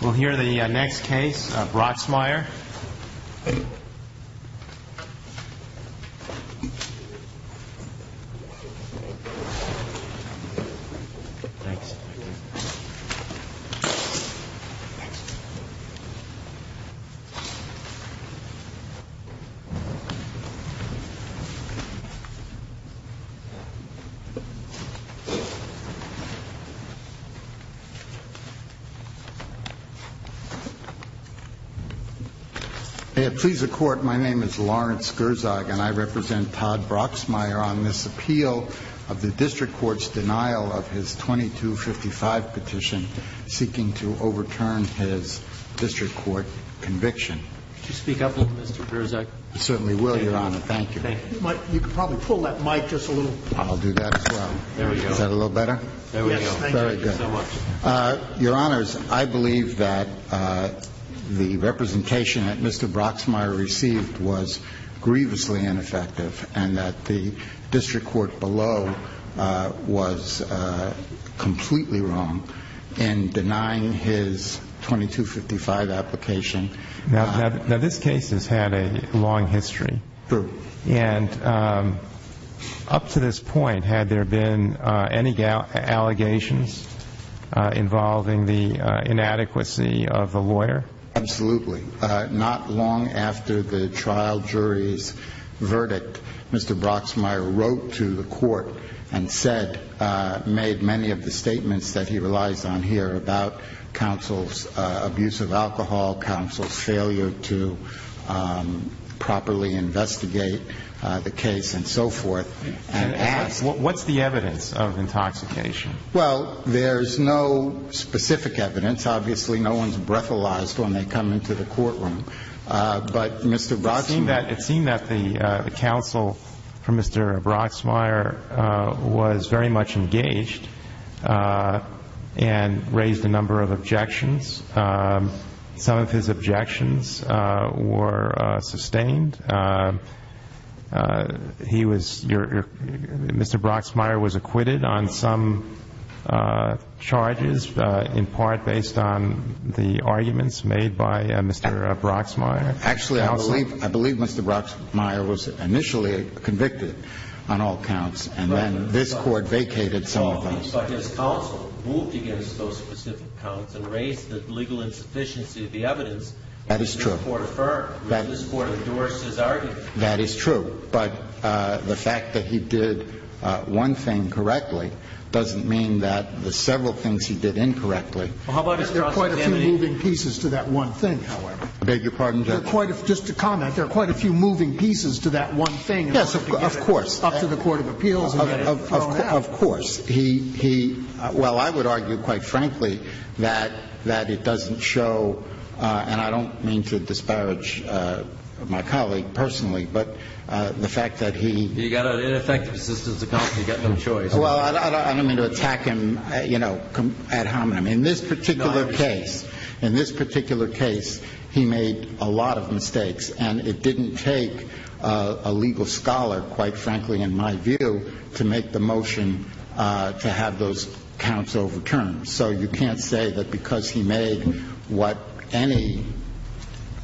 We'll hear the next case, Broxmeyer. Please, the court, my name is Lawrence Gerzog and I represent Todd Broxmeyer on this appeal of the district court's denial of his 2255 petition seeking to overturn his district court conviction. Speak up, Mr. Gerzog. Certainly will, Your Honor. Thank you. You can probably pull that mic just a little. I'll do that as well. There we go. Is that a little better? There we go. Very good. Thank you so much. Your Honors, I believe that the representation that Mr. Broxmeyer received was grievously ineffective and that the district court below was completely wrong in denying his 2255 application. Now, this case has had a long history. True. And up to this point, had there been any allegations involving the inadequacy of the lawyer? Absolutely. Not long after the trial jury's verdict, Mr. Broxmeyer wrote to the court and said, made many of the statements that he relies on here about counsel's abuse of alcohol, counsel's failure to properly investigate the case and so forth and asked. What's the evidence of intoxication? Well, there's no specific evidence. Obviously, no one's breathalyzed when they come into the courtroom. But Mr. Broxmeyer. It seemed that the counsel for Mr. Broxmeyer was very much engaged and raised a number of objections. Some of his objections were sustained. He was your Mr. Broxmeyer was acquitted on some charges, in part based on the arguments made by Mr. Broxmeyer. Actually, I believe I believe Mr. Broxmeyer was initially convicted on all counts. And then this court vacated. Well, I would argue, quite frankly, that that it doesn't show. And I don't mean to disparage my colleague personally, but the fact that he. You got an ineffective assistance account. You got no choice. Well, I don't mean to attack him, you know, ad hominem. In this particular case, in this particular case, he made a lot of mistakes. And it didn't take a legal scholar, quite frankly, in my view, to make the motion to have those counts overturned. So you can't say that because he made what any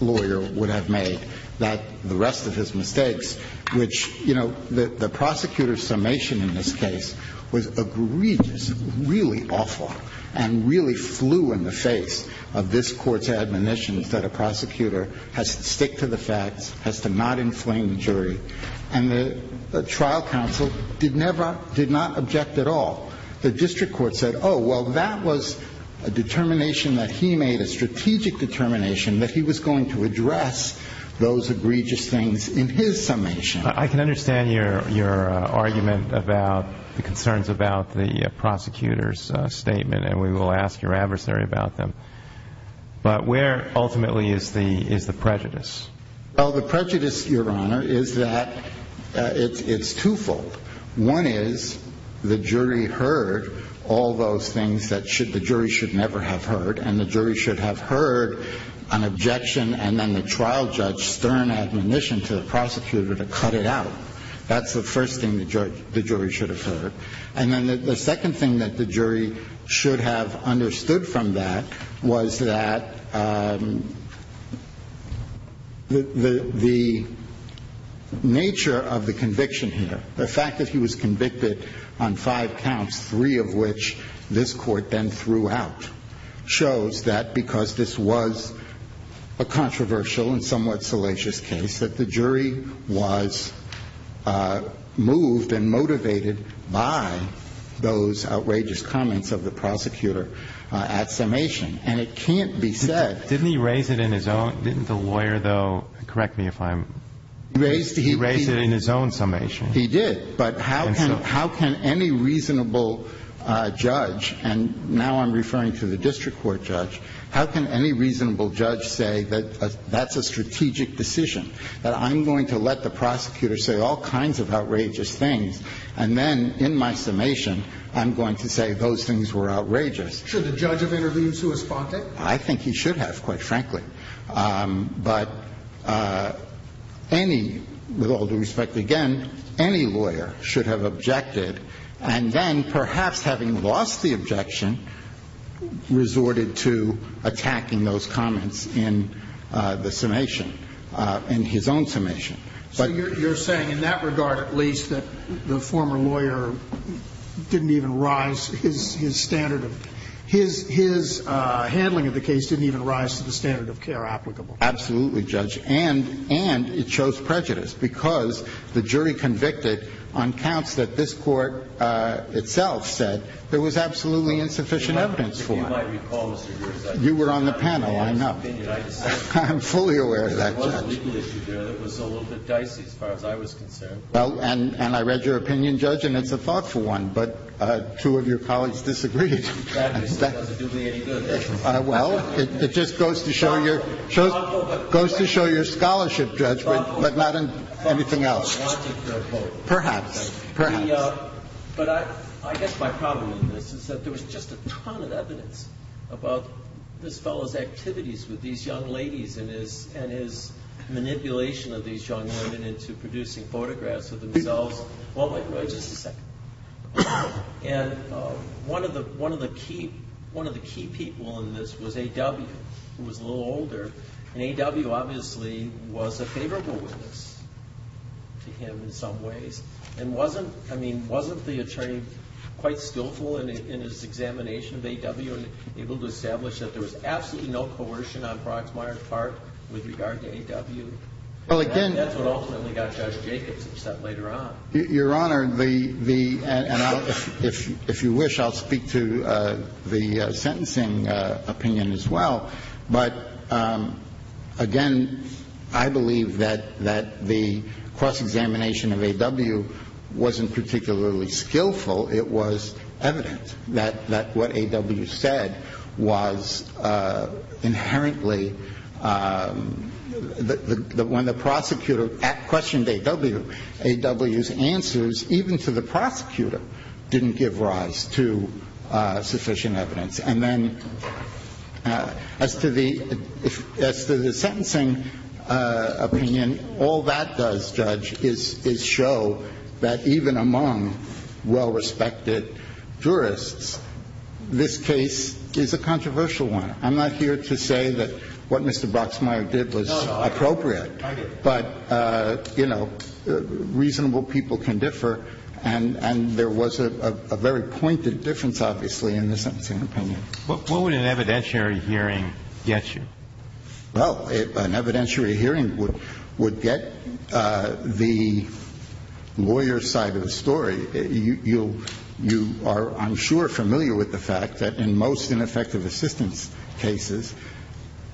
lawyer would have made that the rest of his mistakes, which, you know, the prosecutor's summation in this case was egregious. It was really awful and really flew in the face of this court's admonitions that a prosecutor has to stick to the facts, has to not inflame the jury. And the trial counsel did never, did not object at all. The district court said, oh, well, that was a determination that he made, a strategic determination that he was going to address those egregious things in his summation. I can understand your argument about the concerns about the prosecutor's statement, and we will ask your adversary about them. But where ultimately is the prejudice? Well, the prejudice, Your Honor, is that it's twofold. One is the jury heard all those things that the jury should never have heard. And the jury should have heard an objection and then the trial judge stern admonition to the prosecutor to cut it out. That's the first thing the jury should have heard. And then the second thing that the jury should have understood from that was that the nature of the conviction here, the fact that he was convicted on five counts, three of which this Court then threw out, shows that because this was a controversial and somewhat salacious case, that the jury was moved and motivated by those outrageous comments of the prosecutor at summation. And it can't be said. Didn't he raise it in his own? Didn't the lawyer, though, correct me if I'm wrong, raise it in his own summation? He did. But how can any reasonable judge, and now I'm referring to the district court judge, how can any reasonable judge say that that's a strategic decision, that I'm going to let the prosecutor say all kinds of outrageous things, and then in my summation I'm going to say those things were outrageous? Should the judge have interviewed Sua Sponte? I think he should have, quite frankly. But any, with all due respect, again, any lawyer should have objected, and then perhaps having lost the objection, resorted to attacking those comments in the summation, in his own summation. But you're saying in that regard at least that the former lawyer didn't even rise, his handling of the case didn't even rise to the standard of care applicable? Absolutely, Judge. And it shows prejudice because the jury convicted on counts that this Court itself said there was absolutely insufficient evidence for. If you might recall, Mr. Gerst, I was not aware of this opinion. I'm fully aware of that, Judge. There was a legal issue there that was a little bit dicey as far as I was concerned. Well, and I read your opinion, Judge, and it's a thoughtful one, but two of your colleagues disagreed. That doesn't do me any good. Well, it just goes to show your scholarship, Judge, but not anything else. Perhaps, perhaps. But I guess my problem in this is that there was just a ton of evidence about this fellow's activities with these young ladies and his manipulation of these young women into producing photographs of themselves. Well, wait, wait just a second. And one of the key people in this was A.W., who was a little older, and A.W. obviously was a favorable witness to him in some ways and wasn't, I mean, wasn't the attorney quite skillful in his examination of A.W. and was able to establish that there was absolutely no coercion on Brockmeier's part with regard to A.W. Well, again. And that's what ultimately got Judge Jacobs, except later on. Your Honor, the – and if you wish, I'll speak to the sentencing opinion as well. But, again, I believe that the cross-examination of A.W. wasn't particularly skillful. It was evident that what A.W. said was inherently – when the prosecutor questioned A.W., A.W.'s answers, even to the prosecutor, didn't give rise to sufficient evidence. And then as to the – as to the sentencing opinion, all that does, Judge, is show that even among well-respected jurists, this case is a controversial one. I'm not here to say that what Mr. Brockmeier did was appropriate. No, no. I get it. But, you know, reasonable people can differ, and there was a very pointed difference, obviously, in the sentencing opinion. What would an evidentiary hearing get you? Well, an evidentiary hearing would get the lawyer's side of the story. You are, I'm sure, familiar with the fact that in most ineffective assistance cases,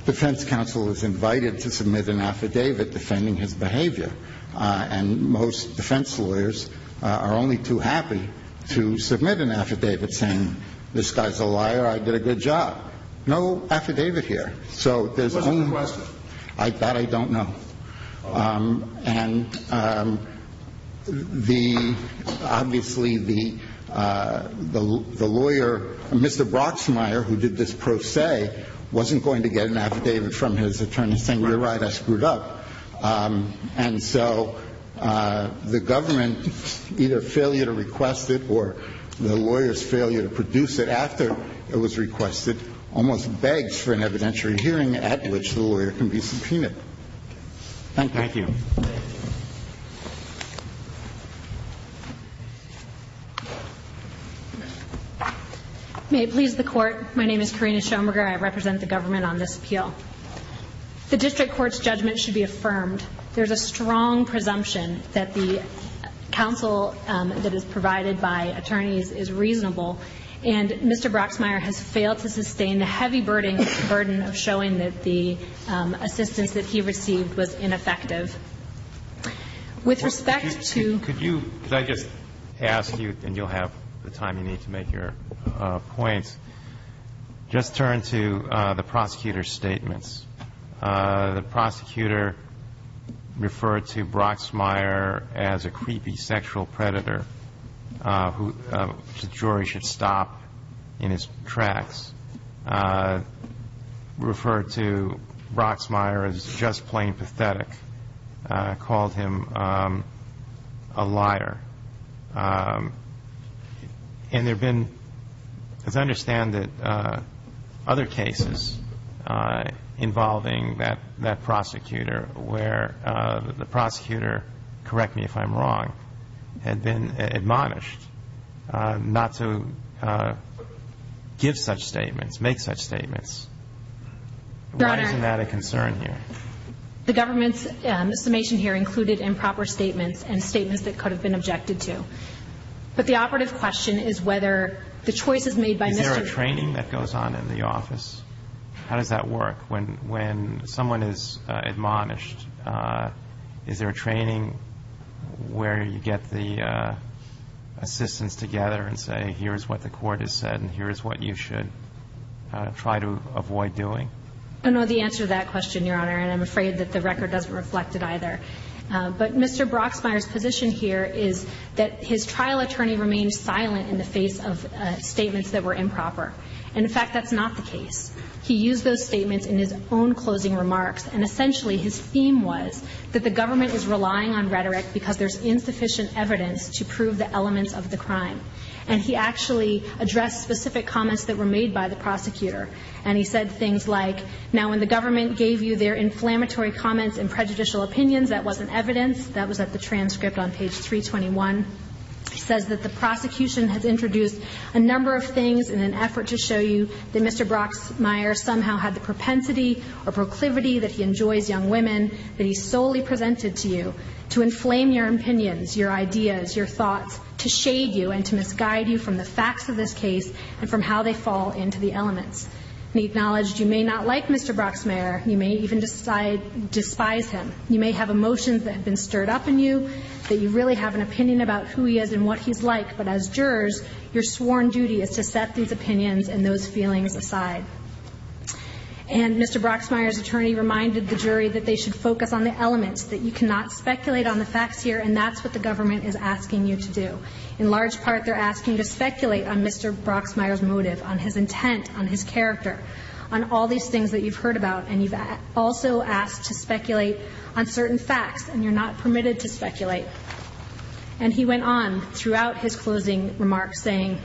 defense counsel is invited to submit an affidavit defending his behavior. And most defense lawyers are only too happy to submit an affidavit saying, this guy's a liar, I did a good job. No affidavit here. So there's only – What's the question? That I don't know. And the – obviously, the lawyer – Mr. Brockmeier, who did this pro se, wasn't going to get an affidavit from his attorney saying, you're right, I screwed up. And so the government's either failure to request it or the lawyer's failure to produce it after it was requested and the lawyer's failure to produce it almost begs for an evidentiary hearing at which the lawyer can be subpoenaed. Thank you. Thank you. May it please the Court, my name is Karina Schoenberger. I represent the government on this appeal. The district court's judgment should be affirmed. There's a strong presumption that the counsel that is provided by attorneys is reasonable, and Mr. Brockmeier has failed to sustain the heavy burden of showing that the assistance that he received was ineffective. With respect to – Could you – could I just ask you, and you'll have the time you need to make your points, just turn to the prosecutor's statements. The prosecutor referred to Brockmeier as a creepy sexual predator who the jury should stop in its tracks, referred to Brockmeier as just plain pathetic, called him a liar. And there have been, as I understand it, other cases involving that prosecutor where the prosecutor, correct me if I'm wrong, had been admonished not to give such statements, make such statements. Your Honor. Why isn't that a concern here? The government's summation here included improper statements and statements that could have been objected to. But the operative question is whether the choices made by Mr. Brockmeier – Is there a training that goes on in the office? How does that work? When someone is admonished, is there a training where you get the assistants together and say, here's what the court has said and here's what you should try to avoid doing? I don't know the answer to that question, Your Honor, and I'm afraid that the record doesn't reflect it either. But Mr. Brockmeier's position here is that his trial attorney remained silent in the face of statements that were improper. And, in fact, that's not the case. He used those statements in his own closing remarks, and essentially his theme was that the government is relying on rhetoric because there's insufficient evidence to prove the elements of the crime. And he actually addressed specific comments that were made by the prosecutor. And he said things like, now when the government gave you their inflammatory comments and prejudicial opinions, that wasn't evidence. That was at the transcript on page 321. He says that the prosecution has introduced a number of things in an effort to show you that Mr. Brockmeier somehow had the propensity or proclivity that he enjoys young women that he solely presented to you to inflame your opinions, your ideas, your thoughts, to shade you and to misguide you from the facts of this case and from how they fall into the elements. He acknowledged you may not like Mr. Brockmeier. You may even despise him. You may have emotions that have been stirred up in you, that you really have an opinion about who he is and what he's like. But as jurors, your sworn duty is to set these opinions and those feelings aside. And Mr. Brockmeier's attorney reminded the jury that they should focus on the elements, that you cannot speculate on the facts here, and that's what the government is asking you to do. In large part, they're asking you to speculate on Mr. Brockmeier's motive, on his intent, on his character, on all these things that you've heard about. And you've also asked to speculate on certain facts, and you're not permitted to speculate. And he went on throughout his closing remarks saying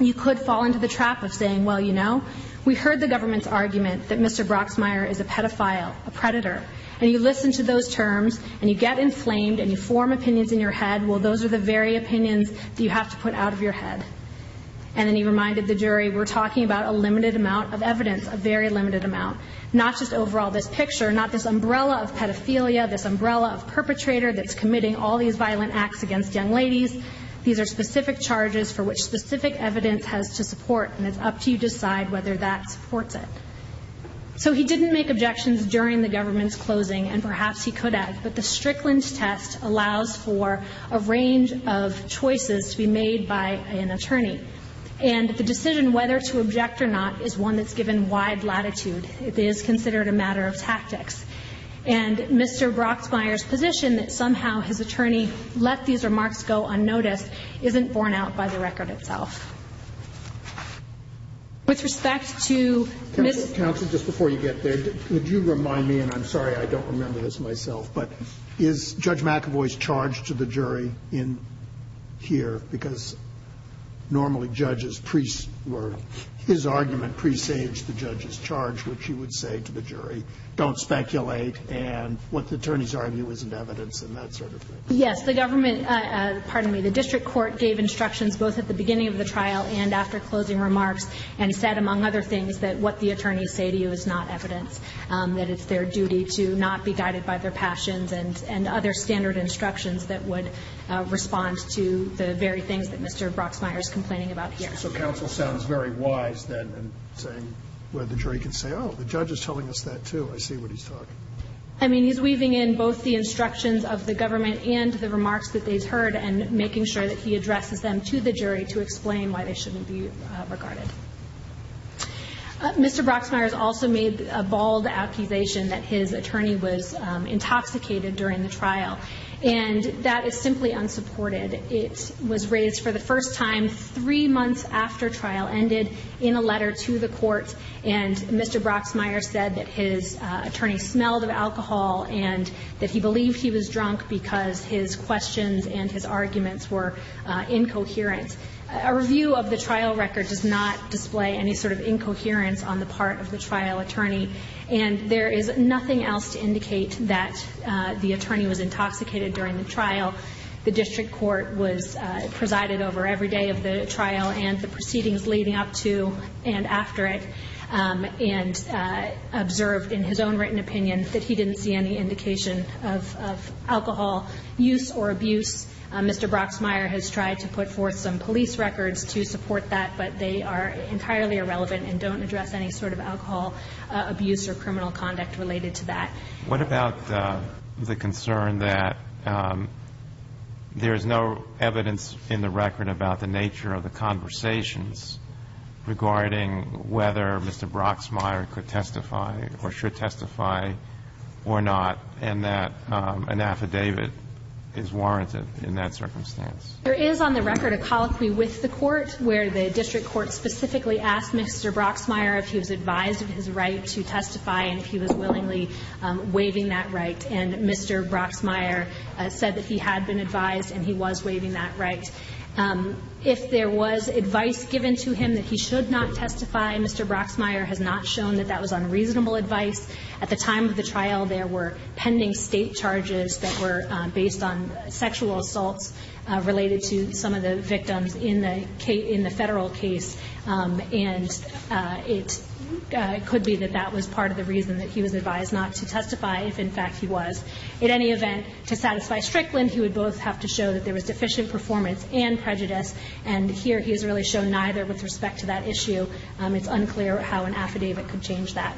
you could fall into the trap of saying, well, you know, we heard the government's argument that Mr. Brockmeier is a pedophile, a predator, and you listen to those terms and you get inflamed and you form opinions in your head. Well, those are the very opinions that you have to put out of your head. And then he reminded the jury we're talking about a limited amount of evidence, a very limited amount, not just overall this picture, not this umbrella of pedophilia, this umbrella of perpetrator that's committing all these violent acts against young ladies. These are specific charges for which specific evidence has to support, and it's up to you to decide whether that supports it. So he didn't make objections during the government's closing, and perhaps he could have, but the Strickland test allows for a range of choices to be made by an attorney. And the decision whether to object or not is one that's given wide latitude. It is considered a matter of tactics. And Mr. Brockmeier's position that somehow his attorney let these remarks go unnoticed isn't borne out by the record itself. With respect to Ms. Counsel, just before you get there, would you remind me, and I'm sorry I don't remember this myself, but is Judge McAvoy's charge to the jury in here? Because normally judges were, his argument presaged the judge's charge, which he would say to the jury, don't speculate, and what the attorneys argue isn't evidence and that sort of thing. Yes, the government, pardon me, the district court gave instructions both at the beginning of the trial and after closing remarks and said, among other things, that what the attorneys say to you is not evidence, that it's their duty to not be guided by their passions and other standard instructions that would respond to the very things that Mr. Brockmeier is complaining about here. So Counsel sounds very wise then in saying, where the jury can say, oh, the judge is telling us that, too. I see what he's talking about. I mean, he's weaving in both the instructions of the government and the remarks that they've heard and making sure that he addresses them to the jury to explain why they shouldn't be regarded. Mr. Brockmeier has also made a bald accusation that his attorney was intoxicated during the trial, and that is simply unsupported. It was raised for the first time three months after trial ended in a letter to the court, and Mr. Brockmeier said that his attorney smelled of alcohol and that he believed he was drunk because his questions and his arguments were incoherent. A review of the trial record does not display any sort of incoherence on the part of the trial attorney, and there is nothing else to indicate that the attorney was intoxicated during the trial. The district court presided over every day of the trial and the proceedings leading up to and after it and observed in his own written opinion that he didn't see any indication of alcohol use or abuse. Mr. Brockmeier has tried to put forth some police records to support that, but they are entirely irrelevant and don't address any sort of alcohol abuse or criminal conduct related to that. What about the concern that there is no evidence in the record about the nature of the conversations regarding whether Mr. Brockmeier could testify or should testify or not and that an affidavit is warranted in that circumstance? There is on the record a colloquy with the court where the district court specifically asked Mr. Brockmeier if he was advised of his right to testify and if he was willingly waiving that right, and Mr. Brockmeier said that he had been advised and he was waiving that right. If there was advice given to him that he should not testify, Mr. Brockmeier has not shown that that was unreasonable advice. At the time of the trial, there were pending state charges that were based on sexual assaults related to some of the victims in the federal case, and it could be that that was part of the reason that he was advised not to testify if, in fact, he was. At any event, to satisfy Strickland, he would both have to show that there was deficient performance and prejudice, and here he has really shown neither with respect to that issue. It's unclear how an affidavit could change that.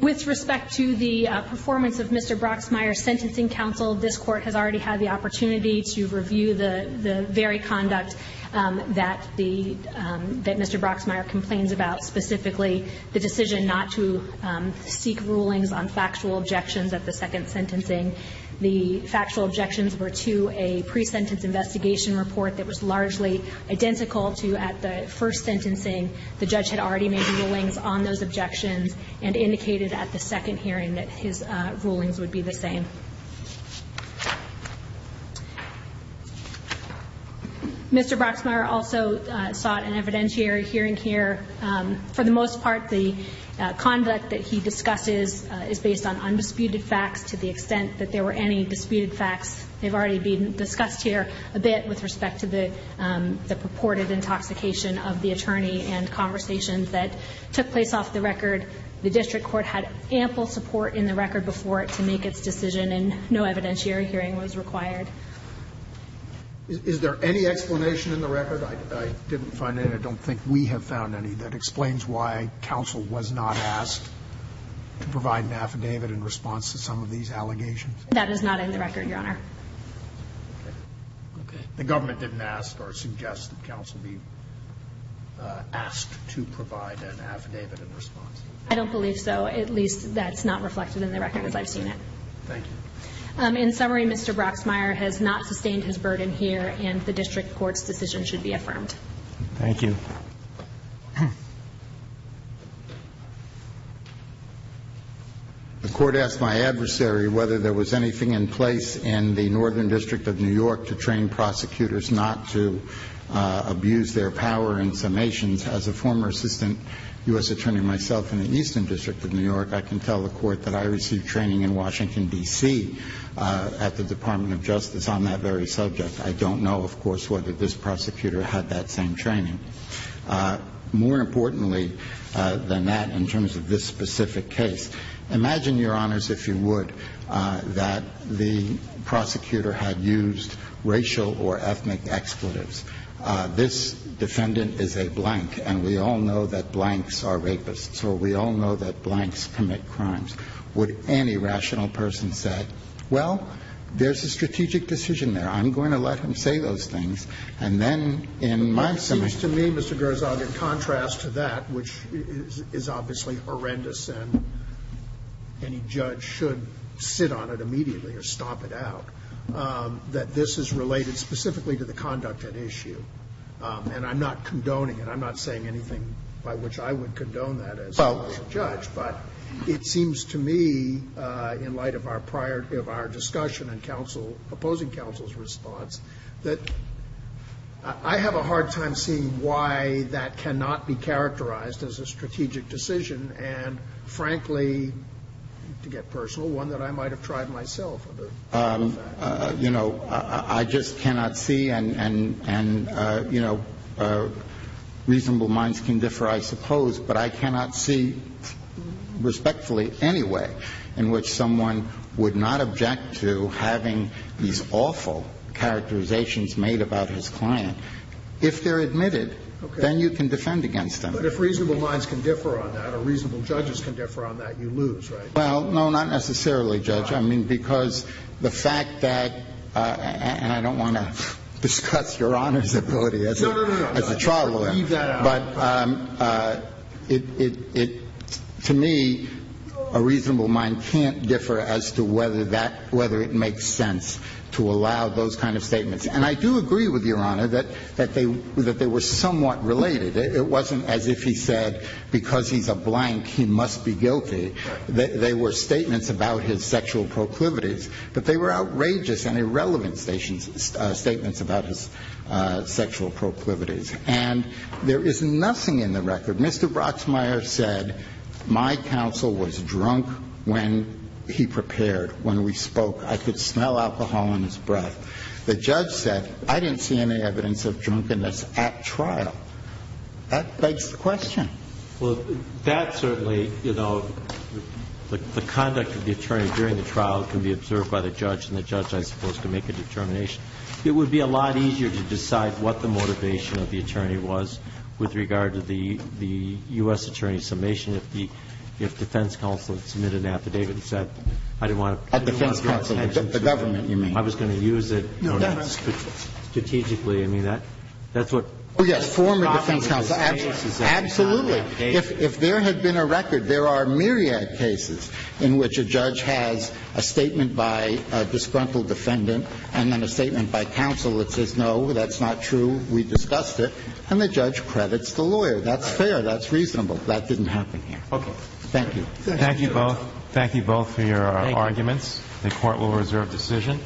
With respect to the performance of Mr. Brockmeier's sentencing counsel, this Court has already had the opportunity to review the very conduct that Mr. Brockmeier complains about, specifically the decision not to seek rulings on factual objections at the second sentencing. The factual objections were to a pre-sentence investigation report that was largely identical to at the first sentencing. The judge had already made rulings on those objections and indicated at the second hearing that his rulings would be the same. Mr. Brockmeier also sought an evidentiary hearing here. For the most part, the conduct that he discusses is based on undisputed facts to the extent that there were any disputed facts. They've already been discussed here a bit with respect to the purported intoxication of the attorney and conversations that took place off the record. The district court had ample support in the record before it to make its decision and no evidentiary hearing was required. Is there any explanation in the record? I didn't find any. I don't think we have found any. That explains why counsel was not asked to provide an affidavit in response to some of these allegations. That is not in the record, Your Honor. Okay. The government didn't ask or suggest that counsel be asked to provide an affidavit in response. I don't believe so. At least that's not reflected in the record as I've seen it. Thank you. In summary, Mr. Broxmeier has not sustained his burden here and the district court's decision should be affirmed. Thank you. The court asked my adversary whether there was anything in place in the Northern District of New York to train prosecutors not to abuse their power in summations. As a former assistant U.S. attorney myself in the Eastern District of New York, I can tell the court that I received training in Washington, D.C., at the Department of Justice on that very subject. I don't know, of course, whether this prosecutor had that same training. More importantly than that, in terms of this specific case, imagine, Your Honors, if you would, that the prosecutor had used racial or ethnic expletives. This defendant is a blank, and we all know that blanks are rapists or we all know that blanks commit crimes. Would any rational person say, well, there's a strategic decision there. I'm going to let him say those things. And then in my summation ---- It seems to me, Mr. Gerzog, in contrast to that, which is obviously horrendous and any judge should sit on it immediately or stomp it out, that this is related specifically to the conduct at issue. And I'm not condoning it. I'm not saying anything by which I would condone that as a judge. But it seems to me, in light of our prior ---- of our discussion and counsel ---- opposing counsel's response, that I have a hard time seeing why that cannot be characterized as a strategic decision and, frankly, to get personal, one that I might have tried myself. You know, I just cannot see and, you know, reasonable minds can differ, I suppose, but I cannot see respectfully any way in which someone would not object to having these awful characterizations made about his client. If they're admitted, then you can defend against them. But if reasonable minds can differ on that or reasonable judges can differ on that, you lose, right? Well, no, not necessarily, Judge. I mean, because the fact that ---- and I don't want to discuss Your Honor's ability as a traveler. No, no, no. Leave that out. But to me, a reasonable mind can't differ as to whether that ---- whether it makes sense to allow those kind of statements. And I do agree with Your Honor that they were somewhat related. It wasn't as if he said, because he's a blank, he must be guilty. Right. They were statements about his sexual proclivities, but they were outrageous and irrelevant statements about his sexual proclivities. And there is nothing in the record. Mr. Brocksmeier said, my counsel was drunk when he prepared, when we spoke. I could smell alcohol on his breath. The judge said, I didn't see any evidence of drunkenness at trial. That begs the question. Well, that certainly, you know, the conduct of the attorney during the trial can be observed by the judge, and the judge, I suppose, can make a determination. It would be a lot easier to decide what the motivation of the attorney was with regard to the U.S. attorney's summation if the defense counsel had submitted an affidavit and said, I didn't want to ---- A defense counsel. The government, you mean. I was going to use it strategically. I mean, that's what ---- Oh, yes. Former defense counsel. Well, absolutely. If there had been a record, there are myriad cases in which a judge has a statement by a disgruntled defendant and then a statement by counsel that says, no, that's not true, we discussed it, and the judge credits the lawyer. That's fair. That's reasonable. That didn't happen here. Okay. Thank you. Thank you both. Thank you both for your arguments. The Court will reserve decision.